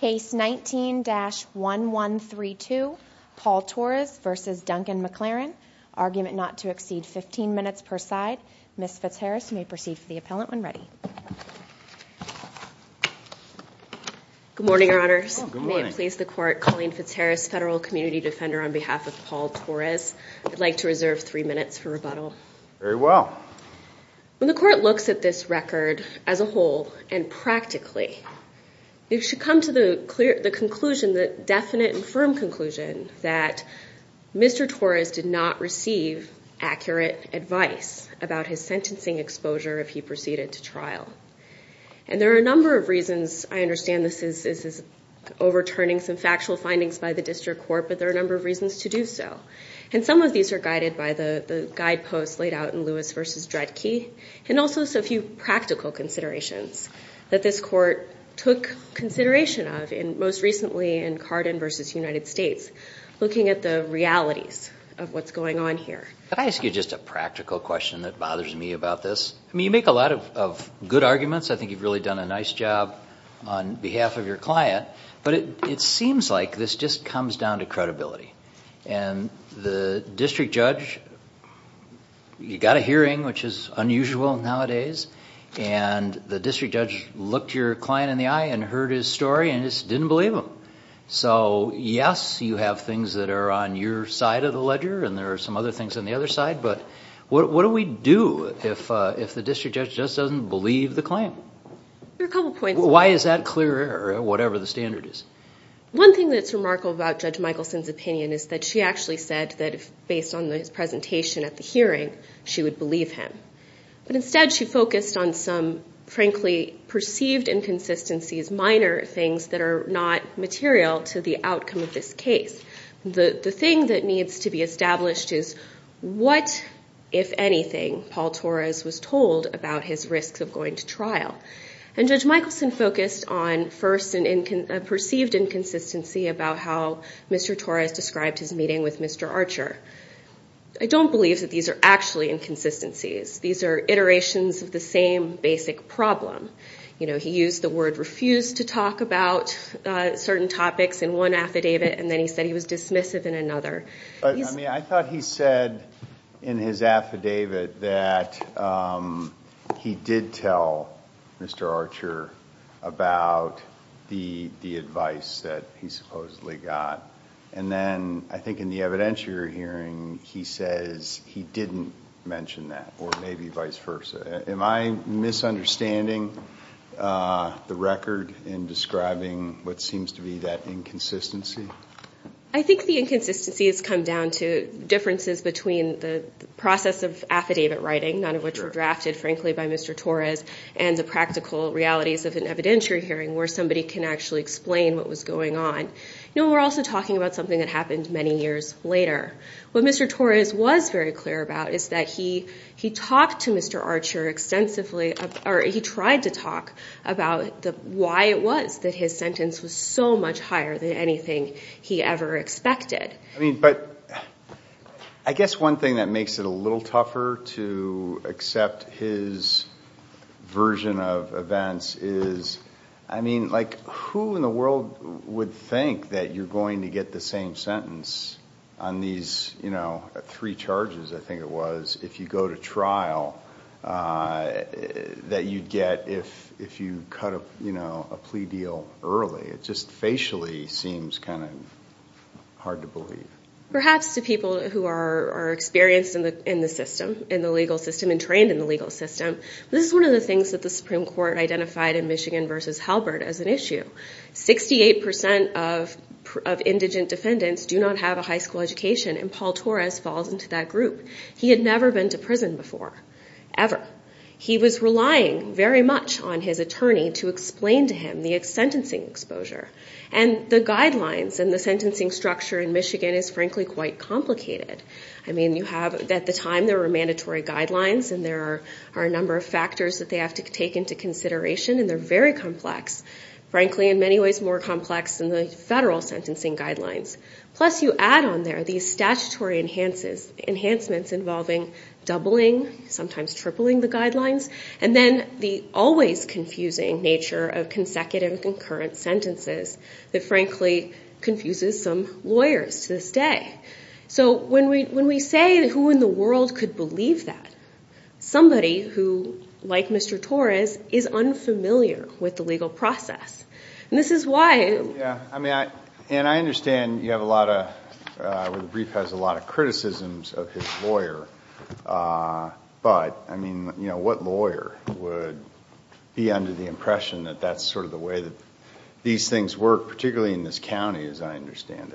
Case 19-1132, Paul Torres v. Duncan MacLaren, argument not to exceed 15 minutes per side. Ms. Fitzharris, you may proceed for the appellant when ready. Good morning, Your Honors. Good morning. May it please the Court, Colleen Fitzharris, Federal Community Defender on behalf of Paul Torres. I'd like to reserve three minutes for rebuttal. Very well. When the Court looks at this record as a whole and practically, it should come to the conclusion, the definite and firm conclusion, that Mr. Torres did not receive accurate advice about his sentencing exposure if he proceeded to trial. And there are a number of reasons. I understand this is overturning some factual findings by the District Court, but there are a number of reasons to do so. And some of these are guided by the guideposts laid out in Lewis v. Dredke and also a few practical considerations that this Court took consideration of, most recently in Carden v. United States, looking at the realities of what's going on here. Can I ask you just a practical question that bothers me about this? I mean, you make a lot of good arguments. I think you've really done a nice job on behalf of your client. But it seems like this just comes down to credibility. And the district judge, you got a hearing, which is unusual nowadays, and the district judge looked your client in the eye and heard his story and just didn't believe him. So, yes, you have things that are on your side of the ledger and there are some other things on the other side, but what do we do if the district judge just doesn't believe the claim? There are a couple points. Why is that clear or whatever the standard is? One thing that's remarkable about Judge Michelson's opinion is that she actually said that based on his presentation at the hearing, she would believe him. But instead she focused on some, frankly, perceived inconsistencies, minor things that are not material to the outcome of this case. The thing that needs to be established is what, if anything, Paul Torres was told about his risks of going to trial. And Judge Michelson focused on first a perceived inconsistency about how Mr. Torres described his meeting with Mr. Archer. I don't believe that these are actually inconsistencies. These are iterations of the same basic problem. He used the word refused to talk about certain topics in one affidavit and then he said he was dismissive in another. I thought he said in his affidavit that he did tell Mr. Archer about the advice that he supposedly got, and then I think in the evidentiary hearing he says he didn't mention that or maybe vice versa. Am I misunderstanding the record in describing what seems to be that inconsistency? I think the inconsistency has come down to differences between the process of affidavit writing, none of which were drafted, frankly, by Mr. Torres, and the practical realities of an evidentiary hearing where somebody can actually explain what was going on. We're also talking about something that happened many years later. What Mr. Torres was very clear about is that he talked to Mr. Archer extensively or he tried to talk about why it was that his sentence was so much higher than anything he ever expected. I guess one thing that makes it a little tougher to accept his version of events is who in the world would think that you're going to get the same sentence on these three charges, I think it was, if you go to trial that you'd get if you cut a plea deal early. It just facially seems kind of hard to believe. Perhaps to people who are experienced in the legal system and trained in the legal system, this is one of the things that the Supreme Court identified in Michigan v. Halbert as an issue. Sixty-eight percent of indigent defendants do not have a high school education, and Paul Torres falls into that group. He had never been to prison before, ever. He was relying very much on his attorney to explain to him the sentencing exposure. The guidelines and the sentencing structure in Michigan is frankly quite complicated. At the time there were mandatory guidelines and there are a number of factors that they have to take into consideration and they're very complex, frankly in many ways more complex than the federal sentencing guidelines. Plus you add on there these statutory enhancements involving doubling, sometimes tripling the guidelines, and then the always confusing nature of consecutive and concurrent sentences that frankly confuses some lawyers to this day. So when we say who in the world could believe that? Somebody who, like Mr. Torres, is unfamiliar with the legal process. And this is why... And I understand you have a lot of, where the brief has a lot of criticisms of his lawyer, but what lawyer would be under the impression that that's sort of the way that these things work, particularly in this county as I understand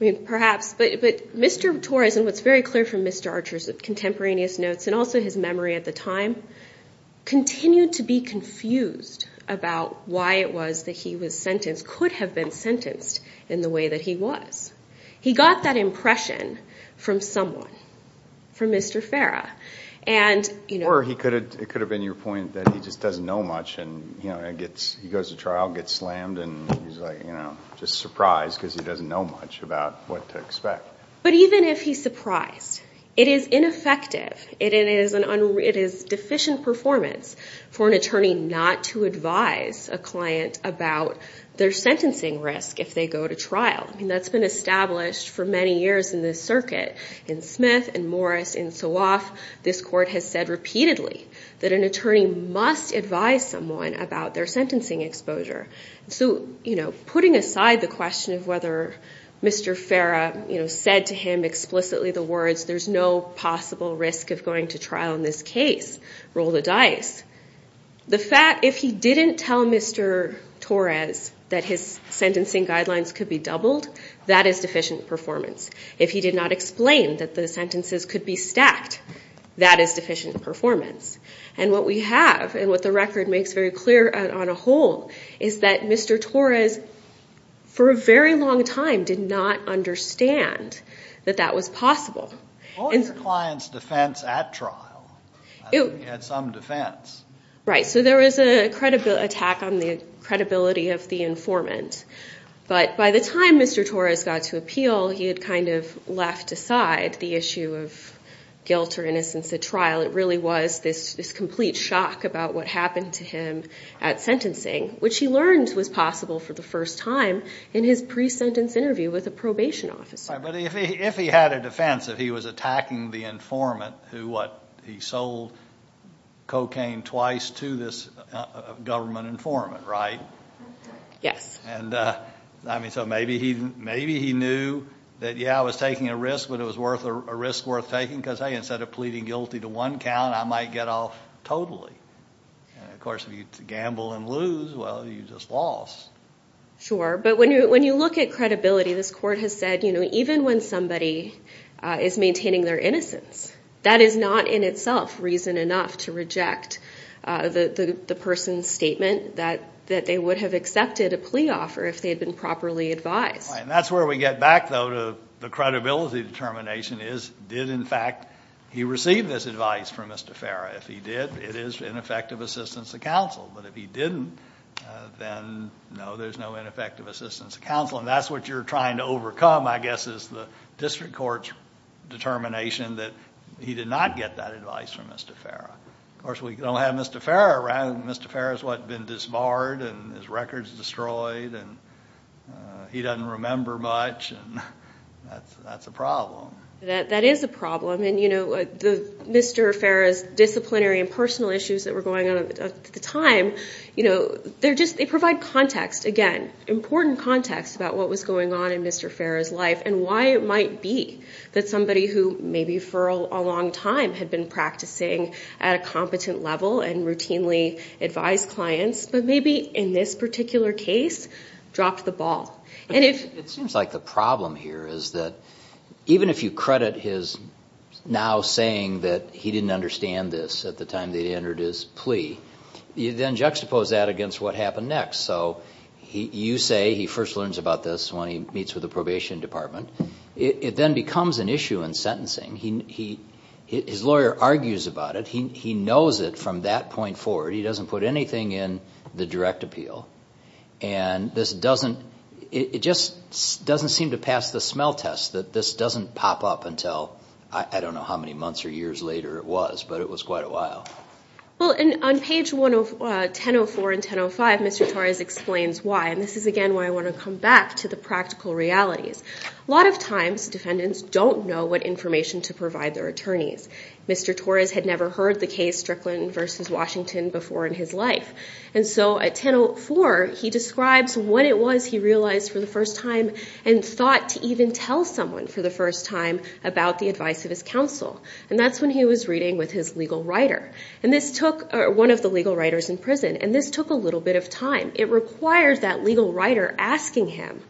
it? Perhaps, but Mr. Torres, and what's very clear from Mr. Archer's contemporaneous notes and also his memory at the time, continued to be confused about why it was that he was sentenced, could have been sentenced in the way that he was. He got that impression from someone, from Mr. Farah. Or it could have been your point that he just doesn't know much and he goes to trial, gets slammed, and he's just surprised because he doesn't know much about what to expect. But even if he's surprised, it is ineffective, it is deficient performance for an attorney not to advise a client about their sentencing risk if they go to trial. I mean, that's been established for many years in this circuit. In Smith, in Morris, in Suaf, this court has said repeatedly that an attorney must advise someone about their sentencing exposure. So, you know, putting aside the question of whether Mr. Farah, you know, had said to him explicitly the words, there's no possible risk of going to trial in this case, roll the dice. The fact, if he didn't tell Mr. Torres that his sentencing guidelines could be doubled, that is deficient performance. If he did not explain that the sentences could be stacked, that is deficient performance. And what we have and what the record makes very clear on a whole is that Mr. Torres, for a very long time, did not understand that that was possible. What was your client's defense at trial? He had some defense. Right. So there was an attack on the credibility of the informant. But by the time Mr. Torres got to appeal, he had kind of left aside the issue of guilt or innocence at trial. It really was this complete shock about what happened to him at sentencing which he learned was possible for the first time in his pre-sentence interview with a probation officer. But if he had a defense, if he was attacking the informant who, what, he sold cocaine twice to this government informant, right? Yes. And, I mean, so maybe he knew that, yeah, I was taking a risk, but it was a risk worth taking because, hey, instead of pleading guilty to one count, I might get off totally. And, of course, if you gamble and lose, well, you just lost. Sure. But when you look at credibility, this court has said, you know, even when somebody is maintaining their innocence, that is not in itself reason enough to reject the person's statement that they would have accepted a plea offer if they had been properly advised. Right. And that's where we get back, though, to the credibility determination is, did, in fact, he receive this advice from Mr. Farrah? If he did, it is ineffective assistance to counsel. But if he didn't, then, no, there's no ineffective assistance to counsel. And that's what you're trying to overcome, I guess, is the district court's determination that he did not get that advice from Mr. Farrah. Of course, we don't have Mr. Farrah around. Mr. Farrah has, what, been disbarred and his record is destroyed and he doesn't remember much, and that's a problem. That is a problem. And, you know, Mr. Farrah's disciplinary and personal issues that were going on at the time, you know, they provide context, again, important context about what was going on in Mr. Farrah's life and why it might be that somebody who maybe for a long time had been practicing at a competent level and routinely advised clients, but maybe in this particular case dropped the ball. It seems like the problem here is that even if you credit his now saying that he didn't understand this at the time that he entered his plea, you then juxtapose that against what happened next. So you say he first learns about this when he meets with the probation department. It then becomes an issue in sentencing. His lawyer argues about it. He knows it from that point forward. He doesn't put anything in the direct appeal. And this doesn't, it just doesn't seem to pass the smell test, that this doesn't pop up until I don't know how many months or years later it was, but it was quite a while. Well, on page 104 and 105, Mr. Torres explains why, and this is, again, why I want to come back to the practical realities. A lot of times defendants don't know what information to provide their attorneys. Mr. Torres had never heard the case Strickland v. Washington before in his life. And so at 104, he describes what it was he realized for the first time and thought to even tell someone for the first time about the advice of his counsel. And that's when he was reading with his legal writer, one of the legal writers in prison, and this took a little bit of time. It required that legal writer asking him,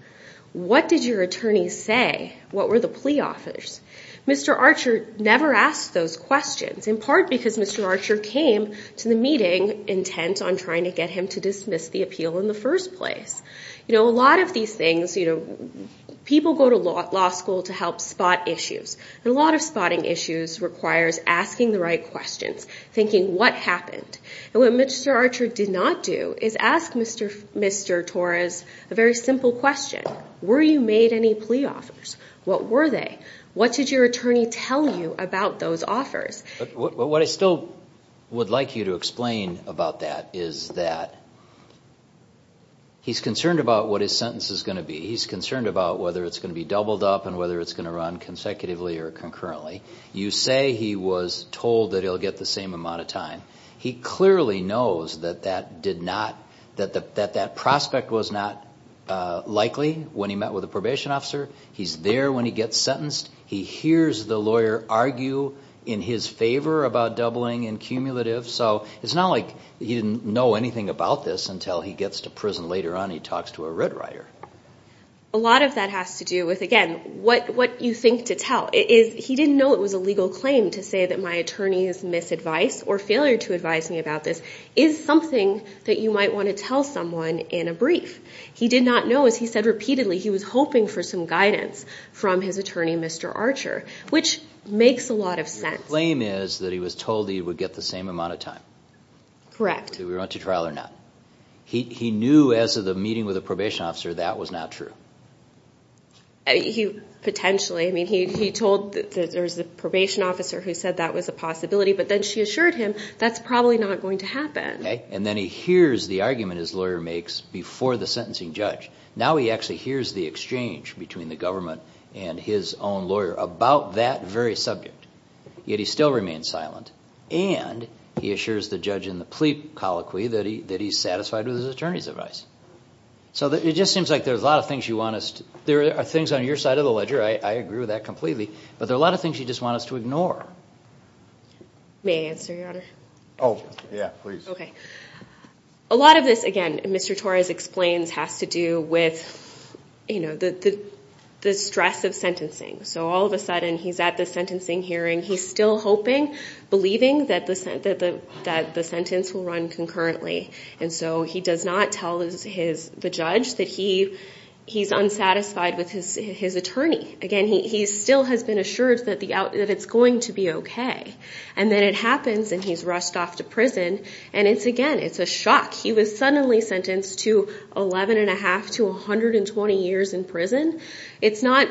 what did your attorney say, what were the plea offers? Mr. Archer never asked those questions, in part because Mr. Archer came to the meeting intent on trying to get him to dismiss the appeal in the first place. A lot of these things, people go to law school to help spot issues, and a lot of spotting issues requires asking the right questions, thinking what happened. And what Mr. Archer did not do is ask Mr. Torres a very simple question. Were you made any plea offers? What were they? What did your attorney tell you about those offers? What I still would like you to explain about that is that he's concerned about what his sentence is going to be. He's concerned about whether it's going to be doubled up and whether it's going to run consecutively or concurrently. You say he was told that he'll get the same amount of time. He clearly knows that that prospect was not likely when he met with a probation officer. He's there when he gets sentenced. He hears the lawyer argue in his favor about doubling and cumulative. So it's not like he didn't know anything about this until he gets to prison later on and he talks to a writ writer. A lot of that has to do with, again, what you think to tell. He didn't know it was a legal claim to say that my attorney has misadvised or failed to advise me about this. It's something that you might want to tell someone in a brief. He did not know, as he said repeatedly, he was hoping for some guidance from his attorney, Mr. Archer, which makes a lot of sense. The claim is that he was told he would get the same amount of time. Correct. Whether he went to trial or not. He knew as of the meeting with the probation officer that was not true. Potentially. He told the probation officer who said that was a possibility, but then she assured him that's probably not going to happen. Then he hears the argument his lawyer makes before the sentencing judge. Now he actually hears the exchange between the government and his own lawyer about that very subject, yet he still remains silent, and he assures the judge in the plea colloquy that he's satisfied with his attorney's advice. So it just seems like there's a lot of things you want us to do. There are things on your side of the ledger, I agree with that completely, but there are a lot of things you just want us to ignore. May I answer, Your Honor? Oh, yeah, please. A lot of this, again, Mr. Torres explains, has to do with the stress of sentencing. So all of a sudden he's at the sentencing hearing, he's still hoping, believing that the sentence will run concurrently, and so he does not tell the judge that he's unsatisfied with his attorney. Again, he still has been assured that it's going to be okay. And then it happens and he's rushed off to prison, and it's, again, it's a shock. He was suddenly sentenced to 11 1⁄2 to 120 years in prison. It's not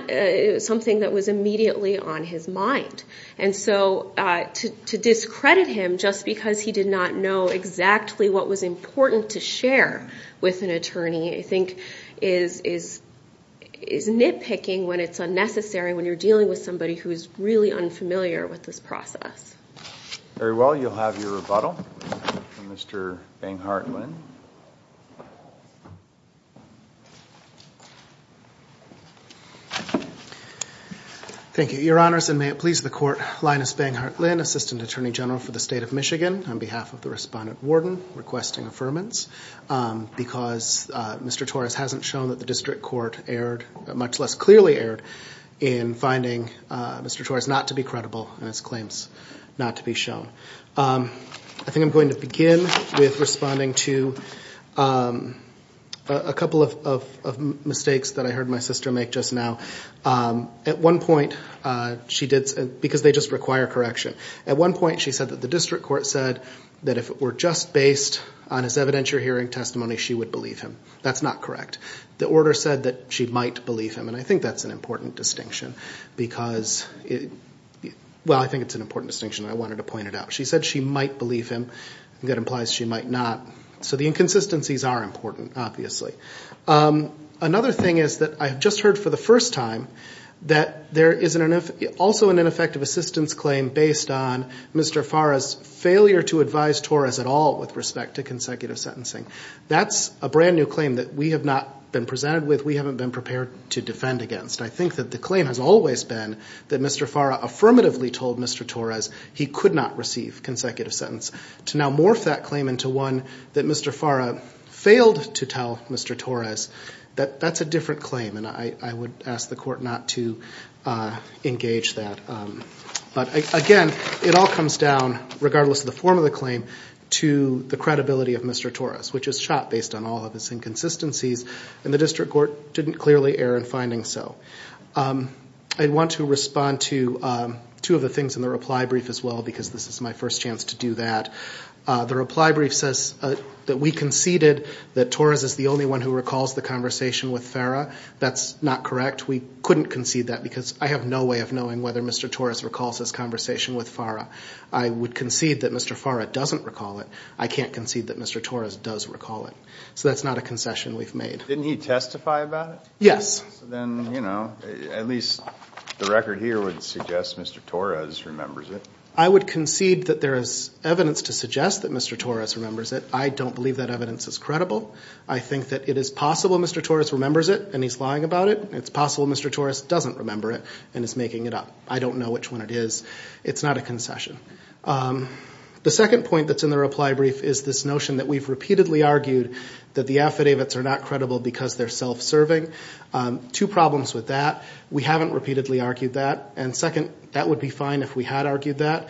something that was immediately on his mind. And so to discredit him just because he did not know exactly what was important to share with an attorney I think is nitpicking when it's unnecessary when you're dealing with somebody who is really unfamiliar with this process. Very well. You'll have your rebuttal from Mr. Banghart Lynn. Thank you. Your Honors, and may it please the Court, Linus Banghart Lynn, Assistant Attorney General for the State of Michigan, on behalf of the Respondent Warden, requesting affirmance, because Mr. Torres hasn't shown that the district court erred, much less clearly erred, in finding Mr. Torres not to be credible in his claims not to be shown. I think I'm going to begin with responding to a couple of mistakes that I heard my sister make just now. At one point she did, because they just require correction, at one point she said that the district court said that if it were just based on his evidentiary hearing testimony she would believe him. That's not correct. The order said that she might believe him, and I think that's an important distinction. Well, I think it's an important distinction, and I wanted to point it out. She said she might believe him. That implies she might not. So the inconsistencies are important, obviously. Another thing is that I have just heard for the first time that there is also an ineffective assistance claim based on Mr. Fara's failure to advise Torres at all with respect to consecutive sentencing. That's a brand-new claim that we have not been presented with, we haven't been prepared to defend against. I think that the claim has always been that Mr. Fara affirmatively told Mr. Torres he could not receive consecutive sentence. To now morph that claim into one that Mr. Fara failed to tell Mr. Torres, that's a different claim, and I would ask the court not to engage that. But, again, it all comes down, regardless of the form of the claim, to the credibility of Mr. Torres, which is shot based on all of his inconsistencies, and the district court didn't clearly err in finding so. I want to respond to two of the things in the reply brief as well, because this is my first chance to do that. The reply brief says that we conceded that Torres is the only one who recalls the conversation with Fara. That's not correct. We couldn't concede that because I have no way of knowing whether Mr. Torres recalls this conversation with Fara. I would concede that Mr. Fara doesn't recall it. I can't concede that Mr. Torres does recall it. So that's not a concession we've made. Didn't he testify about it? Yes. Then, you know, at least the record here would suggest Mr. Torres remembers it. I would concede that there is evidence to suggest that Mr. Torres remembers it. I don't believe that evidence is credible. I think that it is possible Mr. Torres remembers it and he's lying about it. It's possible Mr. Torres doesn't remember it and is making it up. I don't know which one it is. It's not a concession. The second point that's in the reply brief is this notion that we've repeatedly argued that the affidavits are not credible because they're self-serving. Two problems with that. We haven't repeatedly argued that. And second, that would be fine if we had argued that.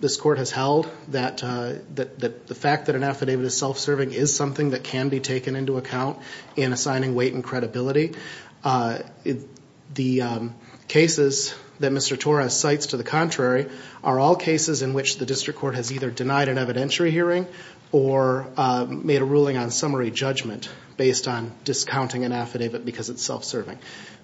This court has held that the fact that an affidavit is self-serving is something that can be taken into account in assigning weight and credibility. The cases that Mr. Torres cites to the contrary are all cases in which the district court has either denied an evidentiary hearing or made a ruling on summary judgment based on discounting an affidavit because it's self-serving.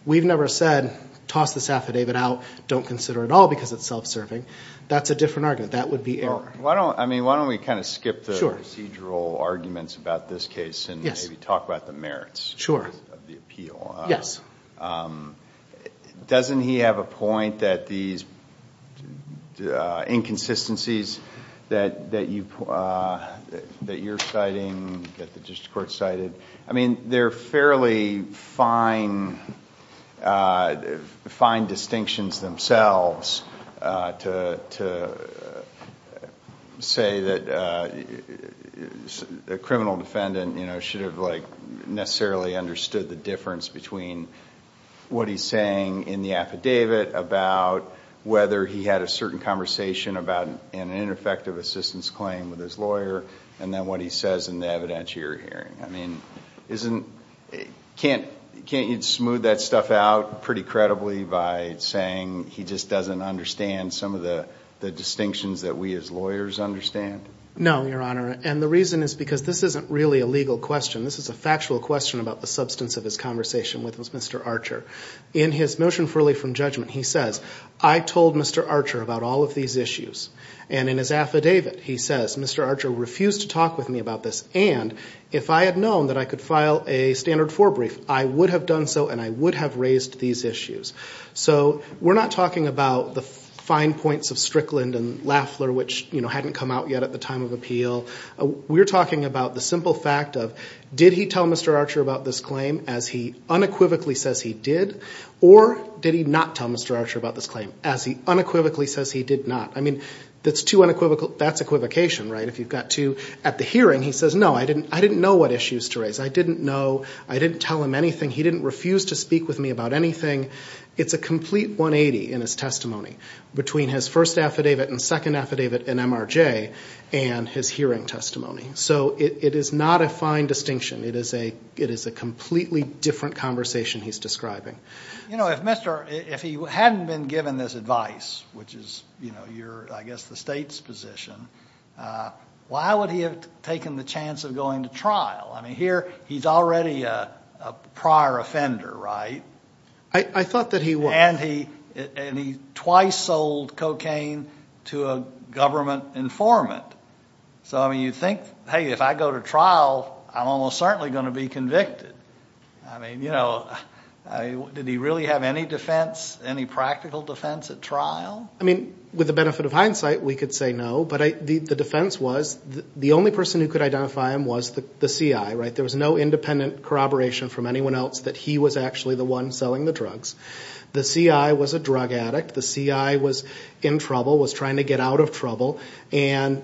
We've never said toss this affidavit out, don't consider it at all because it's self-serving. That's a different argument. That would be error. Well, I mean, why don't we kind of skip the procedural arguments about this case and maybe talk about the merits of the appeal. Yes. Doesn't he have a point that these inconsistencies that you're citing, that the district court cited, I mean, they're fairly fine distinctions themselves to say that a criminal defendant should have necessarily understood the difference between what he's saying in the affidavit about whether he had a certain conversation about an ineffective assistance claim with his lawyer and then what he says in the evidentiary hearing. I mean, can't you smooth that stuff out pretty credibly by saying he just doesn't understand some of the distinctions that we as lawyers understand? No, Your Honor, and the reason is because this isn't really a legal question. This is a factual question about the substance of his conversation with Mr. Archer. In his motion freely from judgment, he says, I told Mr. Archer about all of these issues. And in his affidavit, he says, Mr. Archer refused to talk with me about this. And if I had known that I could file a standard forebrief, I would have done so and I would have raised these issues. So we're not talking about the fine points of Strickland and Lafler, which hadn't come out yet at the time of appeal. We're talking about the simple fact of did he tell Mr. Archer about this claim as he unequivocally says he did, or did he not tell Mr. Archer about this claim as he unequivocally says he did not? I mean, that's equivocation, right? If you've got two at the hearing, he says, no, I didn't know what issues to raise. I didn't know. I didn't tell him anything. He didn't refuse to speak with me about anything. It's a complete 180 in his testimony between his first affidavit and second affidavit and MRJ and his hearing testimony. So it is not a fine distinction. It is a completely different conversation he's describing. You know, if he hadn't been given this advice, which is, I guess, the state's position, why would he have taken the chance of going to trial? I mean, here he's already a prior offender, right? I thought that he was. And he twice sold cocaine to a government informant. So, I mean, you'd think, hey, if I go to trial, I'm almost certainly going to be convicted. I mean, you know, did he really have any defense, any practical defense at trial? I mean, with the benefit of hindsight, we could say no, but the defense was the only person who could identify him was the CI, right? There was no independent corroboration from anyone else that he was actually the one selling the drugs. The CI was a drug addict. The CI was in trouble, was trying to get out of trouble, and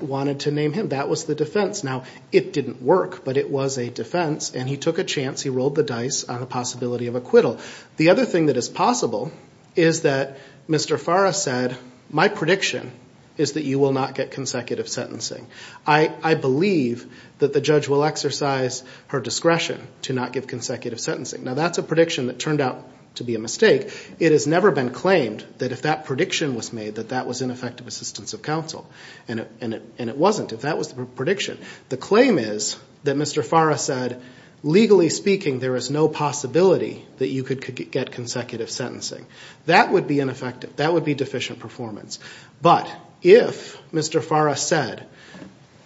wanted to name him. That was the defense. Now, it didn't work, but it was a defense, and he took a chance. He rolled the dice on a possibility of acquittal. The other thing that is possible is that Mr. Farra said, my prediction is that you will not get consecutive sentencing. I believe that the judge will exercise her discretion to not give consecutive sentencing. Now, that's a prediction that turned out to be a mistake. It has never been claimed that if that prediction was made, that that was ineffective assistance of counsel. And it wasn't, if that was the prediction. The claim is that Mr. Farra said, legally speaking, there is no possibility that you could get consecutive sentencing. That would be ineffective. That would be deficient performance. But if Mr. Farra said,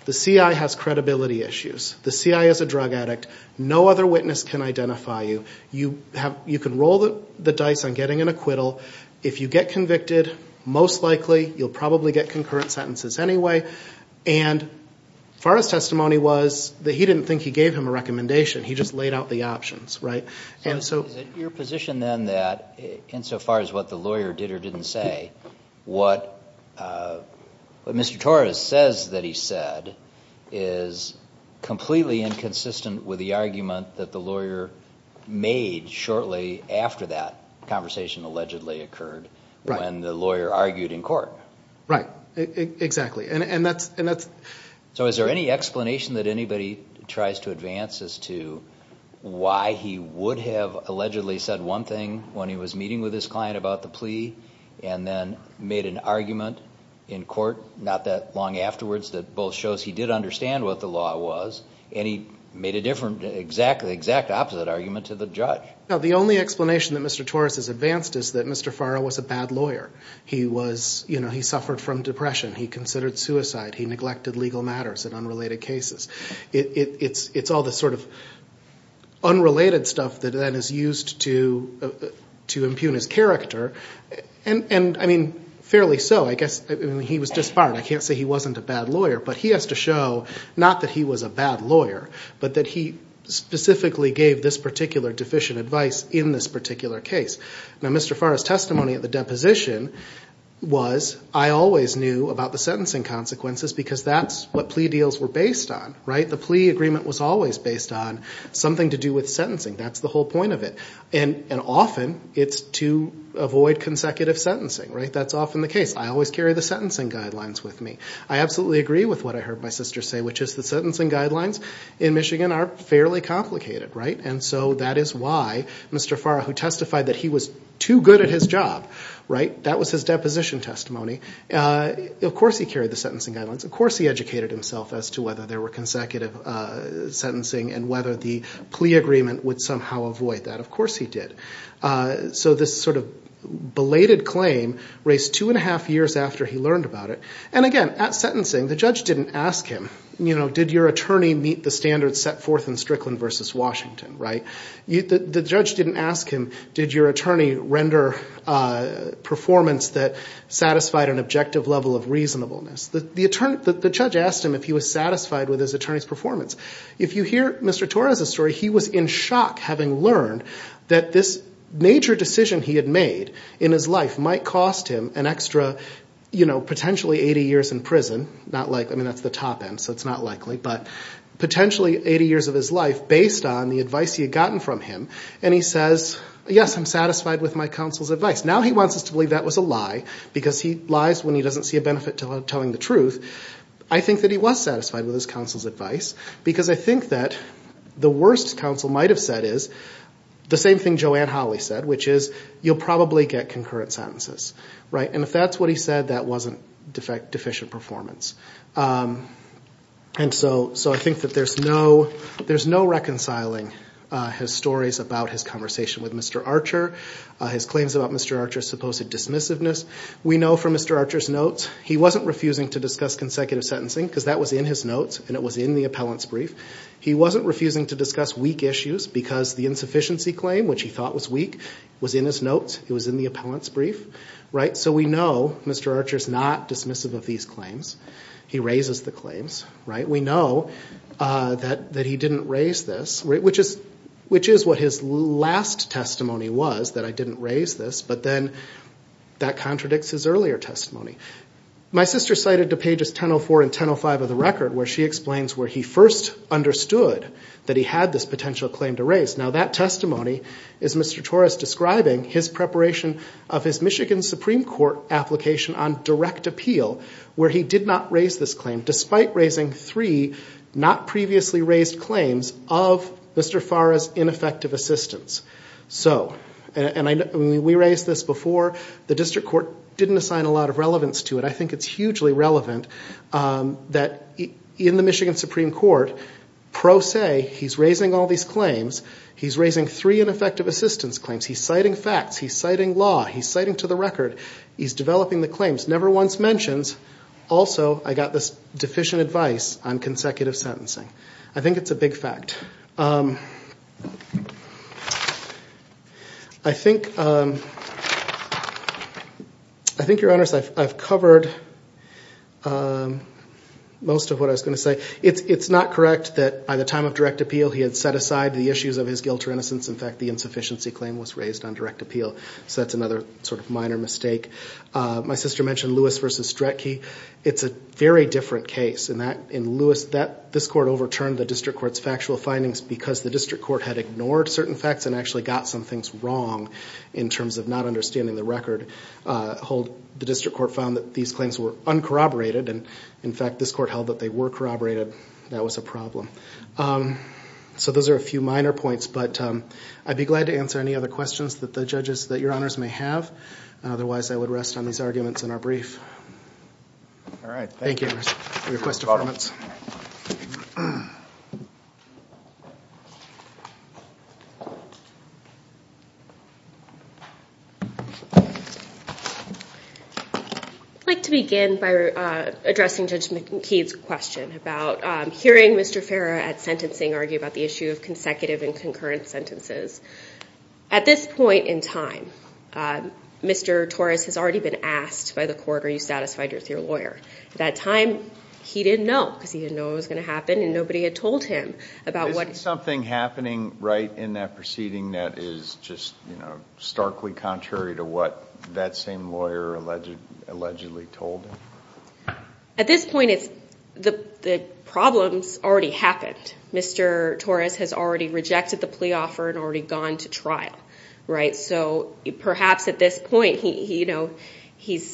the CI has credibility issues, the CI is a drug addict, no other witness can identify you, you can roll the dice on getting an acquittal. If you get convicted, most likely, you'll probably get concurrent sentences anyway. And Farra's testimony was that he didn't think he gave him a recommendation. He just laid out the options, right? Is it your position, then, that insofar as what the lawyer did or didn't say, what Mr. Torres says that he said is completely inconsistent with the argument that the lawyer made shortly after that conversation allegedly occurred when the lawyer argued in court? Right, exactly. So is there any explanation that anybody tries to advance as to why he would have allegedly said one thing when he was meeting with his client about the plea and then made an argument in court not that long afterwards that both shows he did understand what the law was and he made an exact opposite argument to the judge? No, the only explanation that Mr. Torres has advanced is that Mr. Farra was a bad lawyer. He suffered from depression. He considered suicide. He neglected legal matters in unrelated cases. It's all the sort of unrelated stuff that is used to impugn his character, and, I mean, fairly so. I guess he was disbarred. I can't say he wasn't a bad lawyer, but he has to show not that he was a bad lawyer, but that he specifically gave this particular deficient advice in this particular case. Now, Mr. Farra's testimony at the deposition was, I always knew about the sentencing consequences because that's what plea deals were based on, right? The plea agreement was always based on something to do with sentencing. That's the whole point of it. And often it's to avoid consecutive sentencing, right? That's often the case. I always carry the sentencing guidelines with me. I absolutely agree with what I heard my sister say, which is the sentencing guidelines in Michigan are fairly complicated, right? And so that is why Mr. Farra, who testified that he was too good at his job, right? That was his deposition testimony. Of course he carried the sentencing guidelines. Of course he educated himself as to whether there were consecutive sentencing and whether the plea agreement would somehow avoid that. Of course he did. So this sort of belated claim raised two and a half years after he learned about it. And, again, at sentencing, the judge didn't ask him, you know, did your attorney meet the standards set forth in Strickland v. Washington, right? The judge didn't ask him, did your attorney render performance that satisfied an objective level of reasonableness? The judge asked him if he was satisfied with his attorney's performance. If you hear Mr. Torres' story, he was in shock having learned that this major decision he had made in his life might cost him an extra, you know, potentially 80 years in prison. I mean, that's the top end, so it's not likely, but potentially 80 years of his life based on the advice he had gotten from him. And he says, yes, I'm satisfied with my counsel's advice. Now he wants us to believe that was a lie because he lies when he doesn't see a benefit to telling the truth. I think that he was satisfied with his counsel's advice because I think that the worst counsel might have said is the same thing Joanne Hawley said, which is you'll probably get concurrent sentences, right? And if that's what he said, that wasn't deficient performance. And so I think that there's no reconciling his stories about his conversation with Mr. Archer, his claims about Mr. Archer's supposed dismissiveness. We know from Mr. Archer's notes he wasn't refusing to discuss consecutive sentencing because that was in his notes and it was in the appellant's brief. He wasn't refusing to discuss weak issues because the insufficiency claim, which he thought was weak, was in his notes. It was in the appellant's brief, right? So we know Mr. Archer's not dismissive of these claims. He raises the claims, right? We know that he didn't raise this, which is what his last testimony was, that I didn't raise this, but then that contradicts his earlier testimony. My sister cited to pages 1004 and 1005 of the record where she explains where he first understood that he had this potential claim to raise. Now that testimony is Mr. Torres describing his preparation of his Michigan Supreme Court application on direct appeal where he did not raise this claim, despite raising three not previously raised claims of Mr. Farra's ineffective assistance. And we raised this before. The district court didn't assign a lot of relevance to it. I think it's hugely relevant that in the Michigan Supreme Court, pro se, he's raising all these claims. He's raising three ineffective assistance claims. He's citing facts. He's citing law. He's citing to the record. He's developing the claims. Never once mentions, also, I got this deficient advice on consecutive sentencing. I think it's a big fact. I think, Your Honors, I've covered most of what I was going to say. It's not correct that by the time of direct appeal he had set aside the issues of his guilt or innocence. In fact, the insufficiency claim was raised on direct appeal. So that's another sort of minor mistake. My sister mentioned Lewis v. Stretke. It's a very different case. In Lewis, this court overturned the district court's factual findings because the district court had ignored certain facts and actually got some things wrong in terms of not understanding the record. The district court found that these claims were uncorroborated. In fact, this court held that they were corroborated. That was a problem. So those are a few minor points, but I'd be glad to answer any other questions that the judges, that Your Honors, may have. Otherwise, I would rest on these arguments in our brief. All right. Thank you. Request for comments. I'd like to begin by addressing Judge McKee's question about hearing Mr. Farah at sentencing argue about the issue of consecutive and concurrent sentences. At this point in time, Mr. Torres has already been asked by the court, are you satisfied with your lawyer? At that time, he didn't know. Because he didn't know what was going to happen and nobody had told him. Is something happening right in that proceeding that is just starkly contrary to what that same lawyer allegedly told him? At this point, the problems already happened. Mr. Torres has already rejected the plea offer and already gone to trial. So perhaps at this point, he's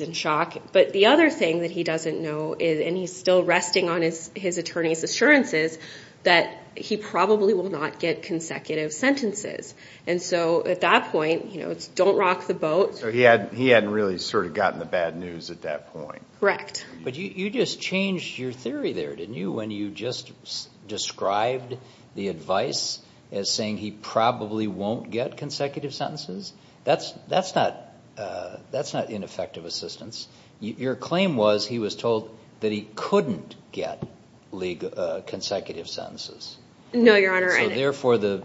in shock. But the other thing that he doesn't know, and he's still resting on his attorney's assurances, that he probably will not get consecutive sentences. And so at that point, it's don't rock the boat. So he hadn't really sort of gotten the bad news at that point. Correct. But you just changed your theory there, didn't you, when you just described the advice as saying he probably won't get consecutive sentences? That's not ineffective assistance. Your claim was he was told that he couldn't get consecutive sentences. No, Your Honor. So therefore, there's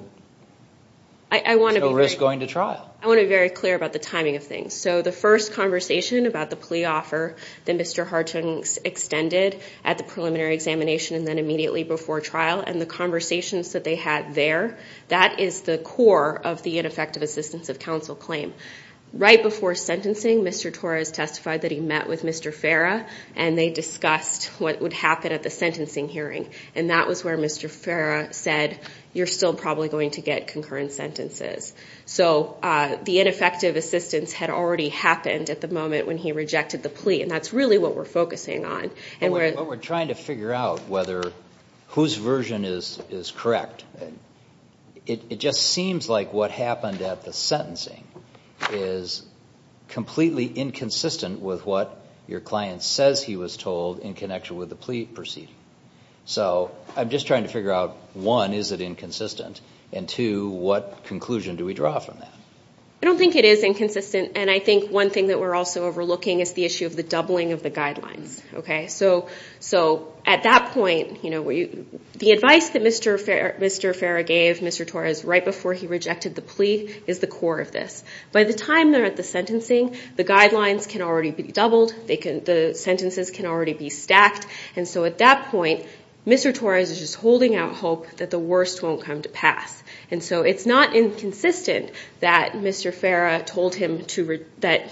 no risk going to trial. I want to be very clear about the timing of things. So the first conversation about the plea offer that Mr. Hartung extended at the preliminary examination and then immediately before trial and the conversations that they had there, that is the core of the ineffective assistance of counsel claim. Right before sentencing, Mr. Torres testified that he met with Mr. Farah and they discussed what would happen at the sentencing hearing. And that was where Mr. Farah said, you're still probably going to get concurrent sentences. So the ineffective assistance had already happened at the moment when he rejected the plea, and that's really what we're focusing on. But we're trying to figure out whether whose version is correct. It just seems like what happened at the sentencing is completely inconsistent with what your client says he was told in connection with the plea proceeding. So I'm just trying to figure out, one, is it inconsistent, and two, what conclusion do we draw from that? I don't think it is inconsistent, and I think one thing that we're also overlooking is the issue of the doubling of the guidelines. So at that point, the advice that Mr. Farah gave Mr. Torres right before he rejected the plea is the core of this. By the time they're at the sentencing, the guidelines can already be doubled. The sentences can already be stacked. And so at that point, Mr. Torres is just holding out hope that the worst won't come to pass. And so it's not inconsistent that Mr. Farah told him that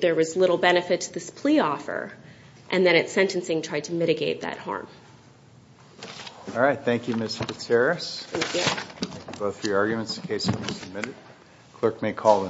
there was little benefit to this plea offer, and then at sentencing tried to mitigate that harm. All right. Thank you, Ms. Fitzgerald. Thank you. Those are your arguments in case you want to submit it. The clerk may call the next case.